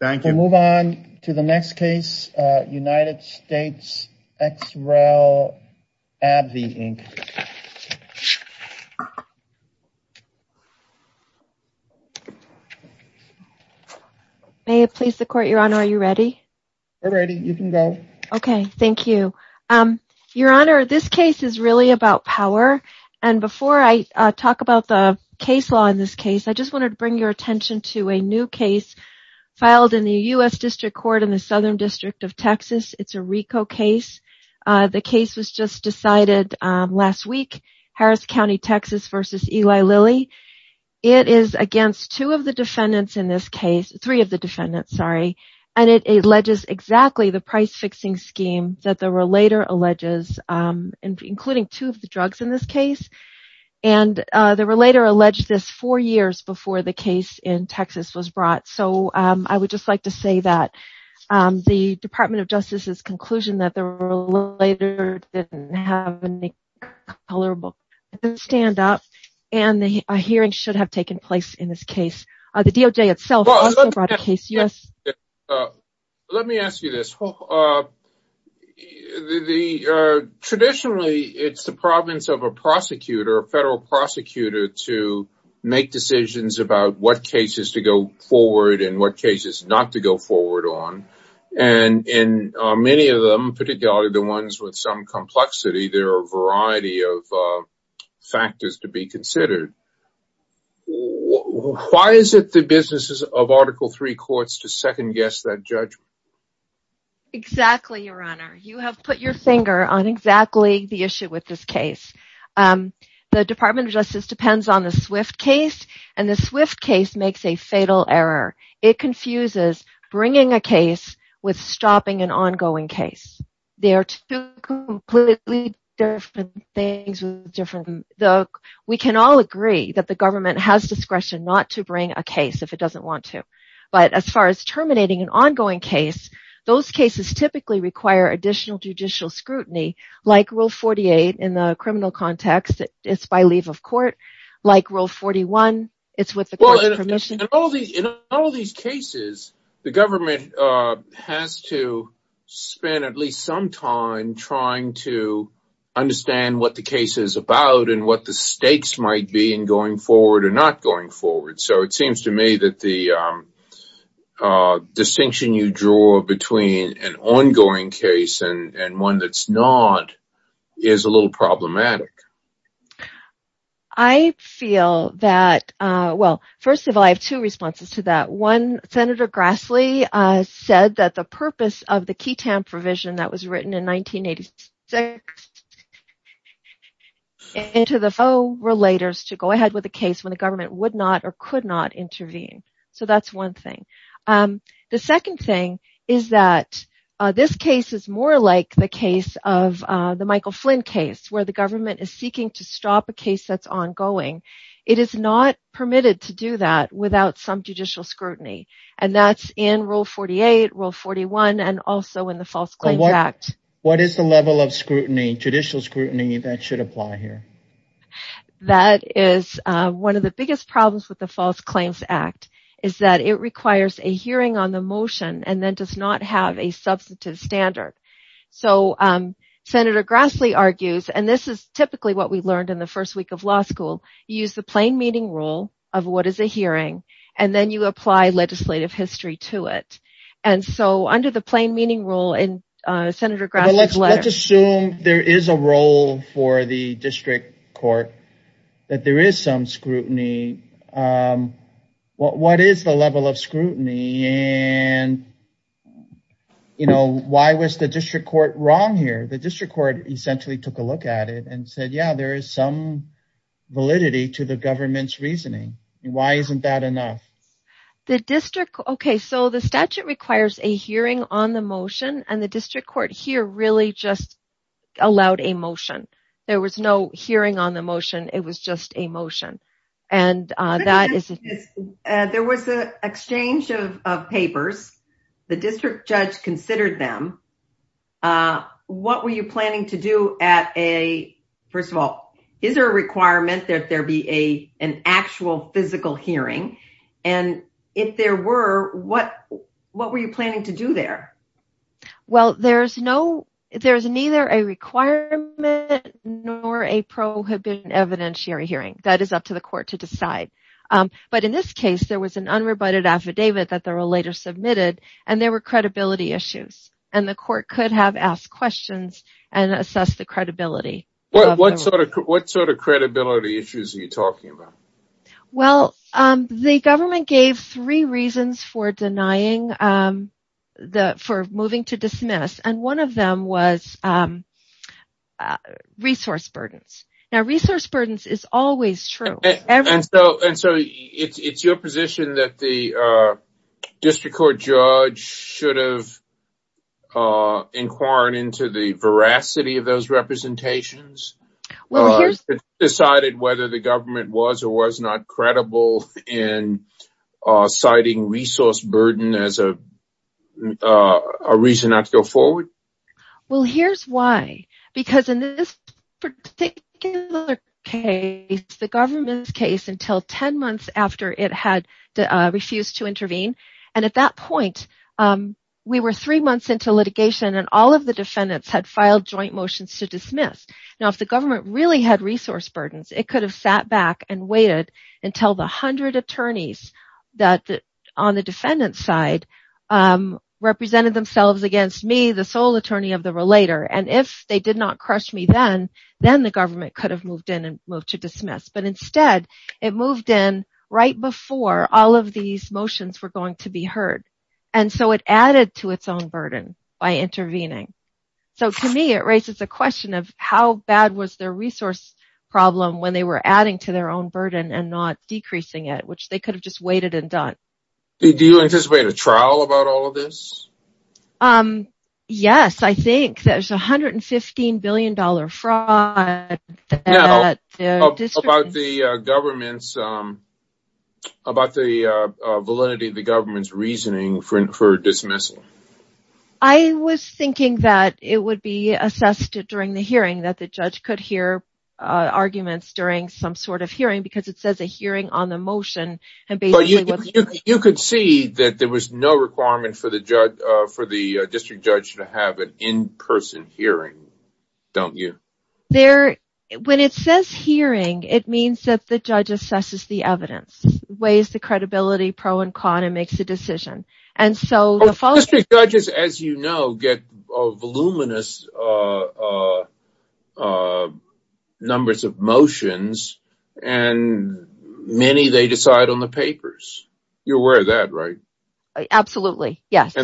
Thank you. Move on to the next case, United States ex re v. Abbvie Inc. May it please the court, Your Honor, are you ready? We're ready, you can go. Okay, thank you. Your Honor, this case is really about power. And before I talk about the case law in this case, I just wanted to bring your attention to a new case filed in the U.S. District Court in the Southern District of Texas. It's a RICO case. The case was just decided last week, Harris County, Texas v. Eli Lilly. It is against two of the defendants in this case, three of the defendants, sorry. And it alleges exactly the price-fixing scheme that the relator alleges, including two of the drugs in this case. And the relator alleged this four years before the case in Texas was brought. So I would just like to say that the Department of Justice's conclusion that the relator didn't have any color book didn't stand up, and a hearing should have taken place in this case. The DOJ itself also brought a case. Let me ask you this. Traditionally, it's the province of a prosecutor, a federal prosecutor, to make decisions about what cases to go forward and what cases not to go forward on. And in many of them, particularly the ones with some complexity, there are a variety of factors to be considered. Why is it the business of Article III courts to second-guess that judgment? Exactly, Your Honor. You have put your finger on exactly the issue with this case. The Department of Justice depends on the Swift case, and the Swift case makes a fatal error. It confuses bringing a case with stopping an ongoing case. They are two completely different things. We can all agree that the government has discretion not to bring a case if it doesn't want to. But as far as terminating an ongoing case, those cases typically require additional judicial scrutiny, like Rule 48 in the criminal context. It's by leave of court. Like Rule 41, it's with the court's permission. In all these cases, the government has to spend at least some time trying to understand what the case is about and what the stakes might be in going forward or not going forward. So it seems to me that the distinction you draw between an ongoing case and one that's not is a little problematic. I feel that, well, first of all, I have two responses to that. One, the purpose of the QETAM provision that was written in 1986 is to allow relators to go ahead with a case when the government would not or could not intervene. So that's one thing. The second thing is that this case is more like the case of the Michael Flynn case, where the government is seeking to stop a case that's ongoing. It is not permitted to do that without some judicial scrutiny, and that's in Rule 48, Rule 41, and also in the False Claims Act. What is the level of judicial scrutiny that should apply here? One of the biggest problems with the False Claims Act is that it requires a hearing on the motion and then does not have a substantive standard. So Senator Grassley argues, and this is typically what we is a hearing, and then you apply legislative history to it. And so under the plain meaning rule in Senator Grassley's letter... Well, let's assume there is a role for the district court, that there is some scrutiny. What is the level of scrutiny and, you know, why was the district court wrong here? The district court essentially took a look at it and said, yeah, there is some reasoning. Why isn't that enough? Okay, so the statute requires a hearing on the motion, and the district court here really just allowed a motion. There was no hearing on the motion, it was just a motion. There was an exchange of papers. The district judge considered them. What were you planning to do at a... First of all, is there a requirement that there be an actual physical hearing? And if there were, what were you planning to do there? Well, there is neither a requirement nor a prohibition evidentiary hearing. That is up to the court to decide. But in this case, there was an unrebutted affidavit that there were later issues, and the court could have asked questions and assessed the credibility. What sort of credibility issues are you talking about? Well, the government gave three reasons for moving to dismiss, and one of them was resource burdens. Now, resource burdens is always true. And so it's your position that the district court judge should have inquired into the veracity of those representations? Decided whether the government was or was not credible in citing resource burden as a reason not to go forward? Well, here's why. Because in this particular case, the government's case until 10 months after it had refused to intervene, and at that point, we were three months into litigation, and all of the defendants had filed joint motions to dismiss. Now, if the government really had resource burdens, it could have sat back and waited until the 100 attorneys on the defendant's side represented themselves against me, the sole attorney of the relator. And if they did not crush me then, then the government could have moved to dismiss. But instead, it moved in right before all of these motions were going to be heard. And so it added to its own burden by intervening. So to me, it raises a question of how bad was their resource problem when they were adding to their own burden and not decreasing it, which they could have just waited and done. Do you anticipate a trial about all of this? Um, yes, I think there's $115 billion fraud. About the government's, about the validity of the government's reasoning for dismissal? I was thinking that it would be assessed during the hearing that the judge could hear arguments during some sort of hearing because it says a hearing on the motion. And basically, you could see that there was no requirement for the judge, for the district judge to have an in-person hearing, don't you? There, when it says hearing, it means that the judge assesses the evidence, weighs the credibility pro and con, and makes a decision. And so the district judges, as you know, get voluminous numbers of motions, and many they decide on the papers. You're aware of that, right? Absolutely, yes.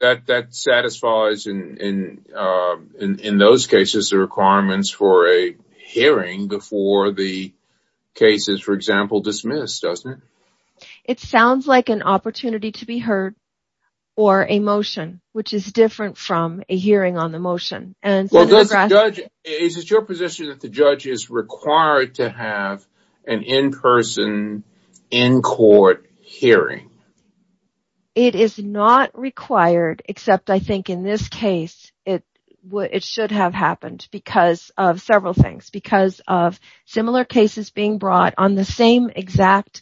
That satisfies, in those cases, the requirements for a hearing before the cases, for example, dismissed, doesn't it? Which is different from a hearing on the motion. Is it your position that the judge is required to have an in-person, in-court hearing? It is not required, except, I think, in this case, it should have happened because of several things, because of similar cases being brought on the same exact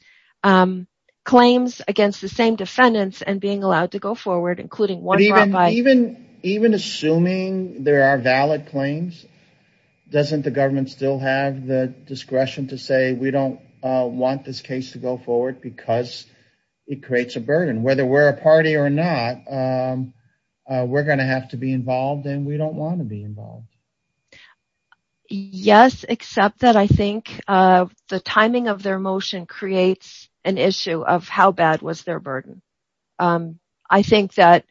claims against the same Even assuming there are valid claims, doesn't the government still have the discretion to say, we don't want this case to go forward because it creates a burden? Whether we're a party or not, we're going to have to be involved, and we don't want to be involved. Yes, except that, I think, the timing of their motion creates an issue of how bad was their burden? I think that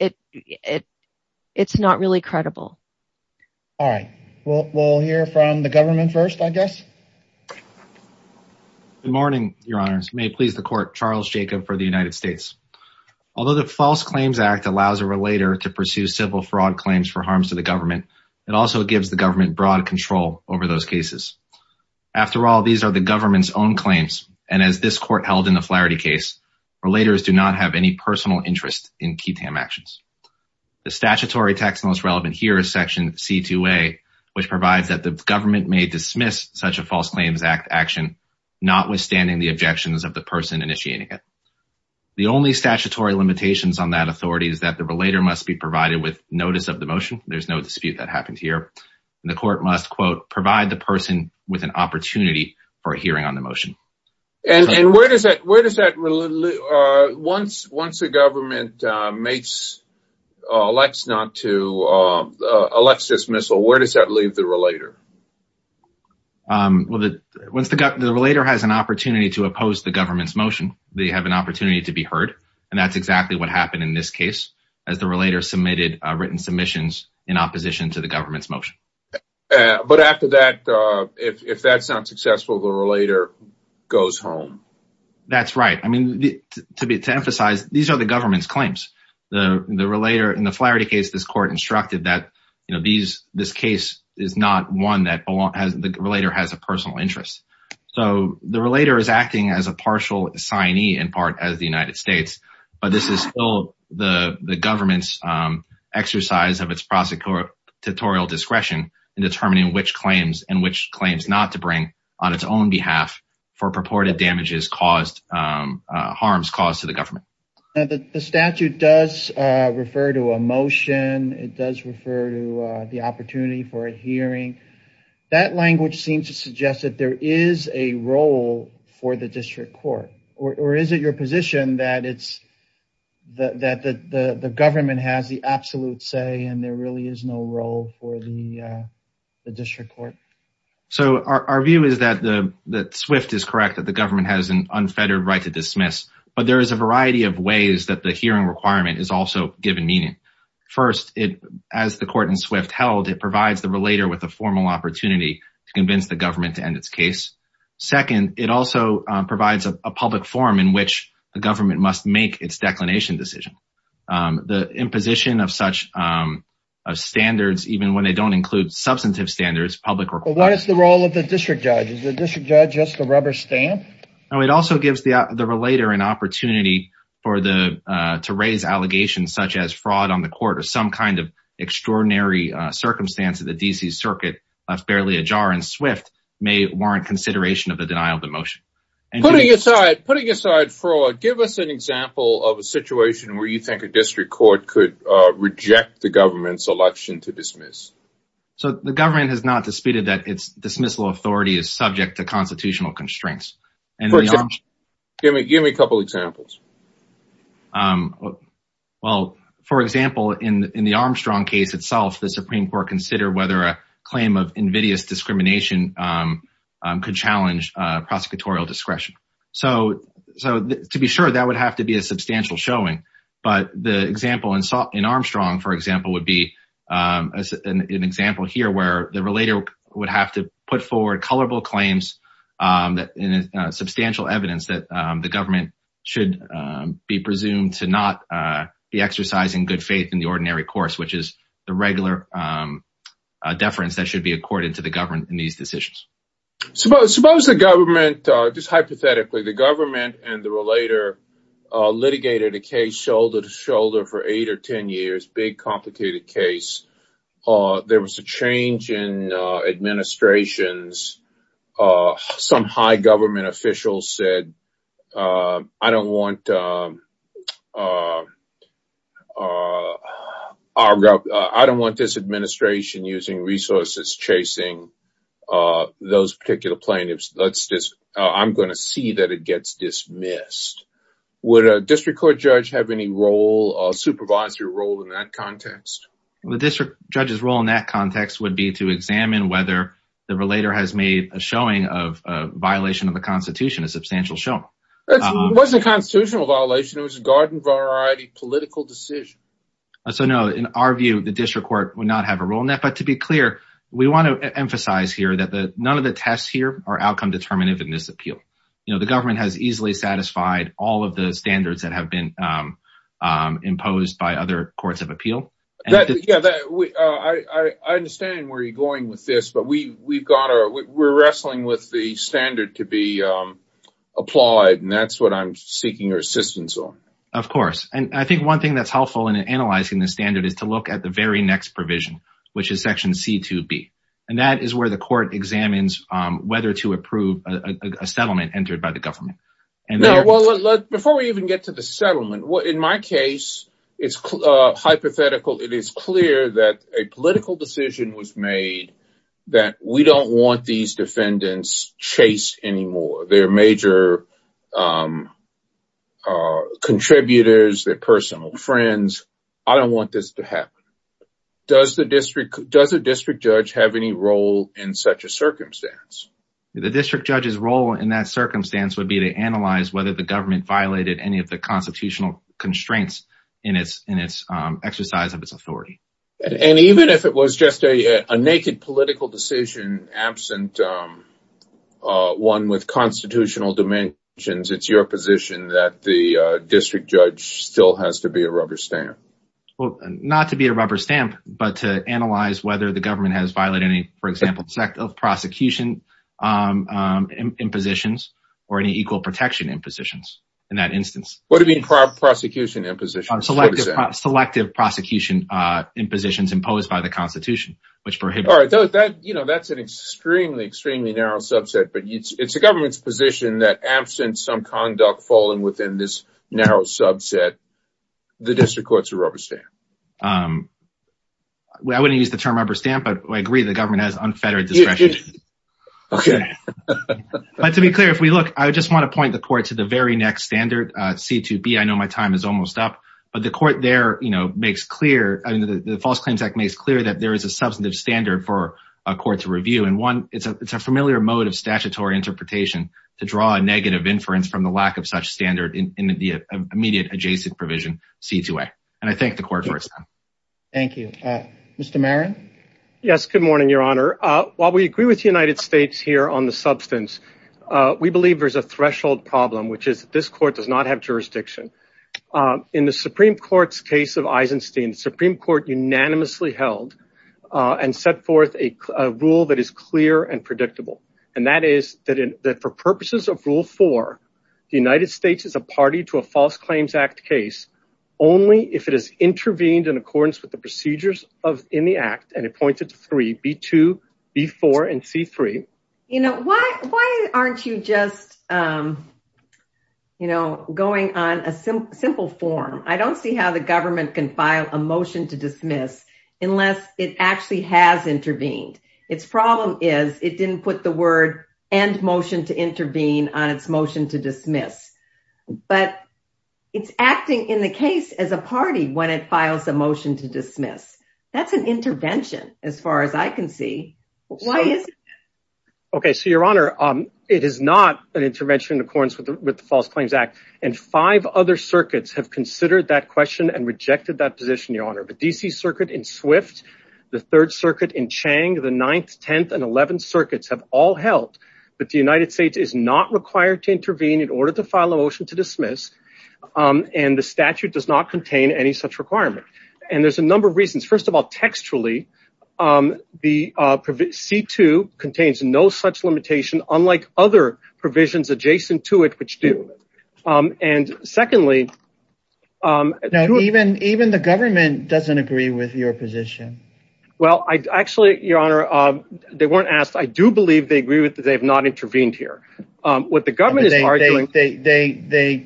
it's not really credible. All right, we'll hear from the government first, I guess. Good morning, your honors. May it please the court, Charles Jacob for the United States. Although the False Claims Act allows a relator to pursue civil fraud claims for harms to the government, it also gives the government broad control over those cases. After all, these are the government's own claims, and as this court held in the Flaherty case, relators do not have any personal interest in QITAM actions. The statutory text most relevant here is section C2A, which provides that the government may dismiss such a False Claims Act action, notwithstanding the objections of the person initiating it. The only statutory limitations on that authority is that the relator must be provided with notice of the motion. There's no dispute that happened here. The court must, quote, provide the person with an opportunity for a hearing on the motion. And where does that—once the government elects not to—elects dismissal, where does that leave the relator? Well, the relator has an opportunity to oppose the government's motion. They have an opportunity to be heard, and that's exactly what happened in this case, as the relator submitted written submissions in opposition to the government's motion. But after that, if that's not successful, the relator goes home. That's right. I mean, to emphasize, these are the government's claims. The relator—in the Flaherty case, this court instructed that, you know, this case is not one that the relator has a personal interest. So the relator is acting as a partial assignee, in part, as the United States, but this is the government's exercise of its prosecutorial discretion in determining which claims and which claims not to bring on its own behalf for purported damages caused—harms caused to the government. The statute does refer to a motion. It does refer to the opportunity for a hearing. That language seems to suggest that there is a role for the district court, or is it your position that it's—that the government has the absolute say and there really is no role for the district court? So our view is that Swift is correct, that the government has an unfettered right to dismiss, but there is a variety of ways that the hearing requirement is also given meaning. First, as the court in Swift held, it provides the relator with a formal opportunity to convince the government to end its case. Second, it also provides a public forum in which the government must make its declination decision. The imposition of such standards, even when they don't include substantive standards, public— But what is the role of the district judge? Is the district judge just a rubber stamp? No, it also gives the relator an opportunity for the—to raise allegations such as fraud on the court or some kind of extraordinary circumstance that the D.C. denial of the motion. Putting aside fraud, give us an example of a situation where you think a district court could reject the government's election to dismiss. So the government has not disputed that its dismissal authority is subject to constitutional constraints. Give me a couple examples. Well, for example, in the Armstrong case itself, the Supreme Court considered whether a claim of invidious discrimination could challenge prosecutorial discretion. So to be sure, that would have to be a substantial showing. But the example in Armstrong, for example, would be an example here where the relator would have to put forward colorable claims that—substantial evidence that the government should be presumed to not be exercising good faith in the ordinary course, which is the government in these decisions. Suppose the government, just hypothetically, the government and the relator litigated a case shoulder to shoulder for eight or ten years, big complicated case. There was a change in administrations. Some high government officials said, I don't want—I don't want this administration using resources chasing those particular plaintiffs. I'm going to see that it gets dismissed. Would a district court judge have any role, a supervisory role in that context? The district judge's role in that context would be to examine whether the relator has made a showing of a violation of the Constitution, a substantial showing. It wasn't a constitutional violation. It was a garden-variety political decision. So, no, in our view, the district court would not have a role in that. But to be clear, we want to emphasize here that none of the tests here are outcome determinative in this appeal. You know, the government has easily satisfied all of the standards that have been imposed by other courts of appeal. I understand where you're going with this, but we've got—we're wrestling with the standard to be applied, and that's what I'm seeking your assistance on. Of course. And I think one thing that's helpful in analyzing the standard is to look at the very next provision, which is Section C2b. And that is where the court examines whether to approve a settlement entered by the government. Now, before we even get to the settlement, in my case, it's hypothetical. It is clear that a political decision was made that we don't want these defendants chased anymore. They're major contributors. They're personal friends. I don't want this to happen. Does the district—does a district judge have any role in such a circumstance? The district judge's role in that circumstance would be to analyze whether the government violated any of the constitutional constraints in its exercise of its authority. And even if it was just a naked political decision, absent one with constitutional dimensions, it's your position that the district judge still has to be a rubber stamp? Well, not to be a rubber stamp, but to analyze whether the government has violated any, for example, prosecution impositions or any equal protection impositions, in that instance. What do you mean prosecution impositions? Selective prosecution impositions imposed by the Constitution, which prohibit— All right, you know, that's an extremely, extremely narrow subset, but it's the government's position that absent some conduct falling within this narrow subset, the district court's a rubber stamp. I wouldn't use the term rubber stamp, but I agree the government has unfettered discretion. But to be clear, if we look, I just want to point the court to the very next standard, C2B. I know my time is almost up, but the court there makes clear, the False Claims Act makes clear that there is a substantive standard for a court to review. And one, it's a familiar mode of statutory interpretation to draw a negative inference from the lack of such standard in the immediate adjacent provision, C2A. And I thank the court for its time. Thank you. Mr. Marin? Yes, good morning, Your Honor. While we agree with the United States here on the substance, we believe there's a jurisdiction. In the Supreme Court's case of Eisenstein, the Supreme Court unanimously held and set forth a rule that is clear and predictable. And that is that for purposes of Rule 4, the United States is a party to a False Claims Act case only if it has intervened in accordance with the procedures in the Act and appointed to 3, B2, B4, and C3. You know, why aren't you just, you know, going on a simple form? I don't see how the government can file a motion to dismiss unless it actually has intervened. Its problem is it didn't put the word end motion to intervene on its motion to dismiss. But it's acting in the case as a party when it files a motion to dismiss. That's an intervention as far as I can see. Why is it? Okay, so, Your Honor, it is not an intervention in accordance with the False Claims Act. And five other circuits have considered that question and rejected that position, Your Honor. The D.C. Circuit in Swift, the Third Circuit in Chang, the Ninth, Tenth, and Eleventh Circuits have all held that the United States is not required to intervene in order to file a motion to dismiss. And the statute does not contain any such requirement. And there's a number of reasons. First of all, textually, the C2 contains no such limitation, unlike other provisions adjacent to it, which do. And secondly, even the government doesn't agree with your position. Well, actually, Your Honor, they weren't asked. I do believe they agree that they have not intervened here. What the government is arguing, they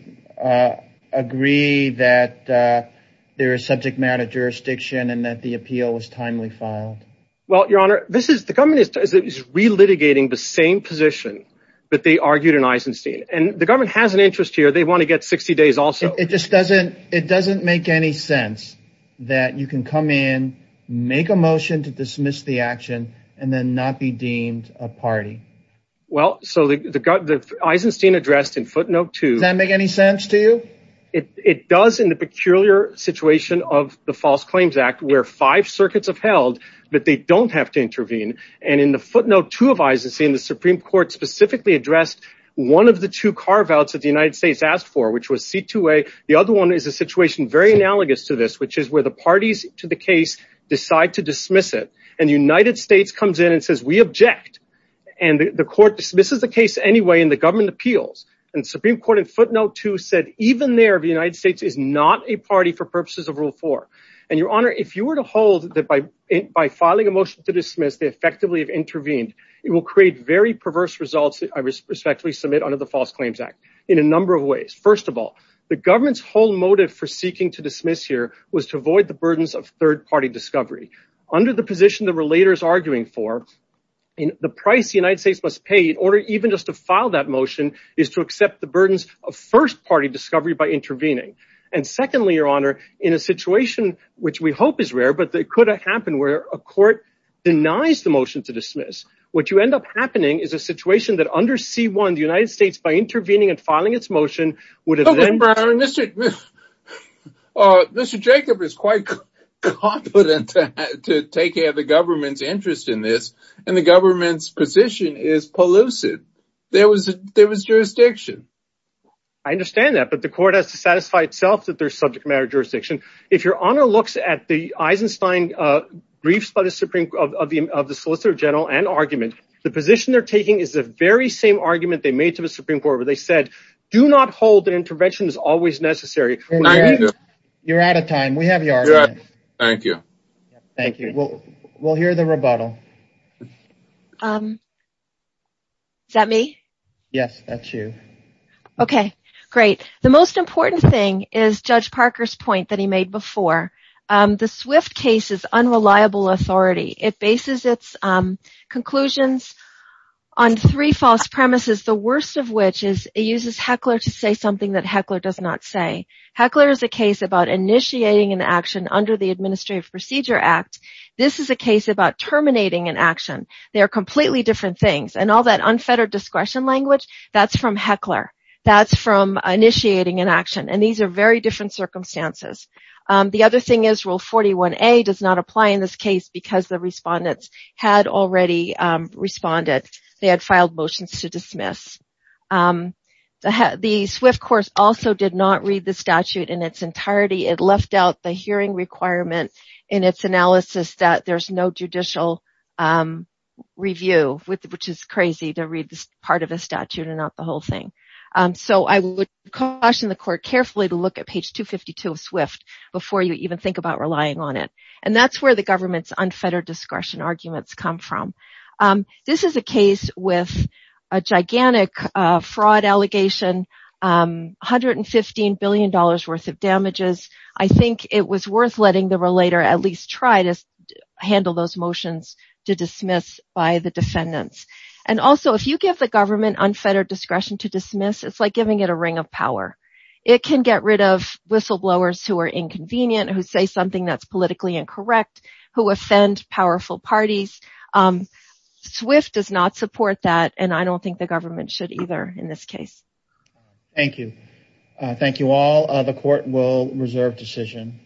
agree that there is subject matter jurisdiction and that the appeal was timely filed. Well, Your Honor, this is the government is relitigating the same position that they argued in Eisenstein. And the government has an interest here. They want to get 60 days. Also, it just doesn't it doesn't make any sense that you can come in, make a motion to dismiss the action and then not be deemed a party. Well, so the Eisenstein addressed in footnote to that make any sense to you. It does in the peculiar situation of the False Claims Act, where five circuits have held that they don't have to intervene. And in the footnote to advise the Supreme Court specifically addressed one of the two carve outs that the United States asked for, which was C2A. The other one is a situation very analogous to this, which is where the parties to the case decide to dismiss it. And the United States comes in and says, we object. And the court dismisses the case anyway in the government appeals. And Supreme Court in footnote to said even there, the United States is not a party for purposes of rule four. And your honor, if you were to hold that by by filing a motion to dismiss, they effectively have intervened. It will create very perverse results. I respectfully submit under the False Claims Act in a number of ways. First of all, the government's whole motive for seeking to dismiss here was to avoid the burdens of third party discovery under the position the relators arguing for in the price the United States must pay in order even just to file that motion is to accept the burdens of first party discovery by intervening. And secondly, your honor, in a situation which we hope is rare, but it could happen where a court denies the motion to dismiss. What you end up happening is a situation that under C1, the United States, by intervening and filing its motion would have been. Mr. Jacob is quite confident to take care of the government's interest in this and the government's position is polluted. There was there was jurisdiction. I understand that. But the court has to satisfy itself that there's subject matter jurisdiction. If your honor looks at the Eisenstein briefs by the Supreme Court of the Solicitor General and argument, the position they're taking is the very same argument they made to the Supreme Court where they said, do not hold that intervention is always necessary. You're out of time. We have your thank you. Thank you. Well, we'll hear the rebuttal. Um. Is that me? Yes, that's you. OK, great. The most important thing is Judge Parker's point that he made before. The Swift case is unreliable authority. It bases its conclusions on three false premises, the worst of which is it uses Heckler to say something that Heckler does not say. Heckler is a case about initiating an action under the Administrative Procedure Act. This is a case about terminating an action. They are completely different things. And all that unfettered discretion language, that's from Heckler. That's from initiating an action. And these are very different circumstances. The other thing is Rule 41A does not apply in this case because the respondents had already responded. They had filed motions to dismiss. The Swift court also did not read the statute in its entirety. It left out the hearing requirement in its analysis that there's no judicial review, which is crazy to read this part of a statute and not the whole thing. So I would caution the court carefully to look at page 252 of Swift before you even think about relying on it. And that's where the government's unfettered discretion arguments come from. This is a case with a gigantic fraud allegation, $115 billion worth of damages. I think it was worth letting the relator at least try to handle those motions to dismiss by the defendants. And also, if you give the government unfettered discretion to dismiss, it's like giving it a ring of power. It can get rid of whistleblowers who are inconvenient, who say something that's politically incorrect, who offend powerful parties. Swift does not support that. And I don't think the government should either in this case. Thank you. Thank you all. The court will reserve decision.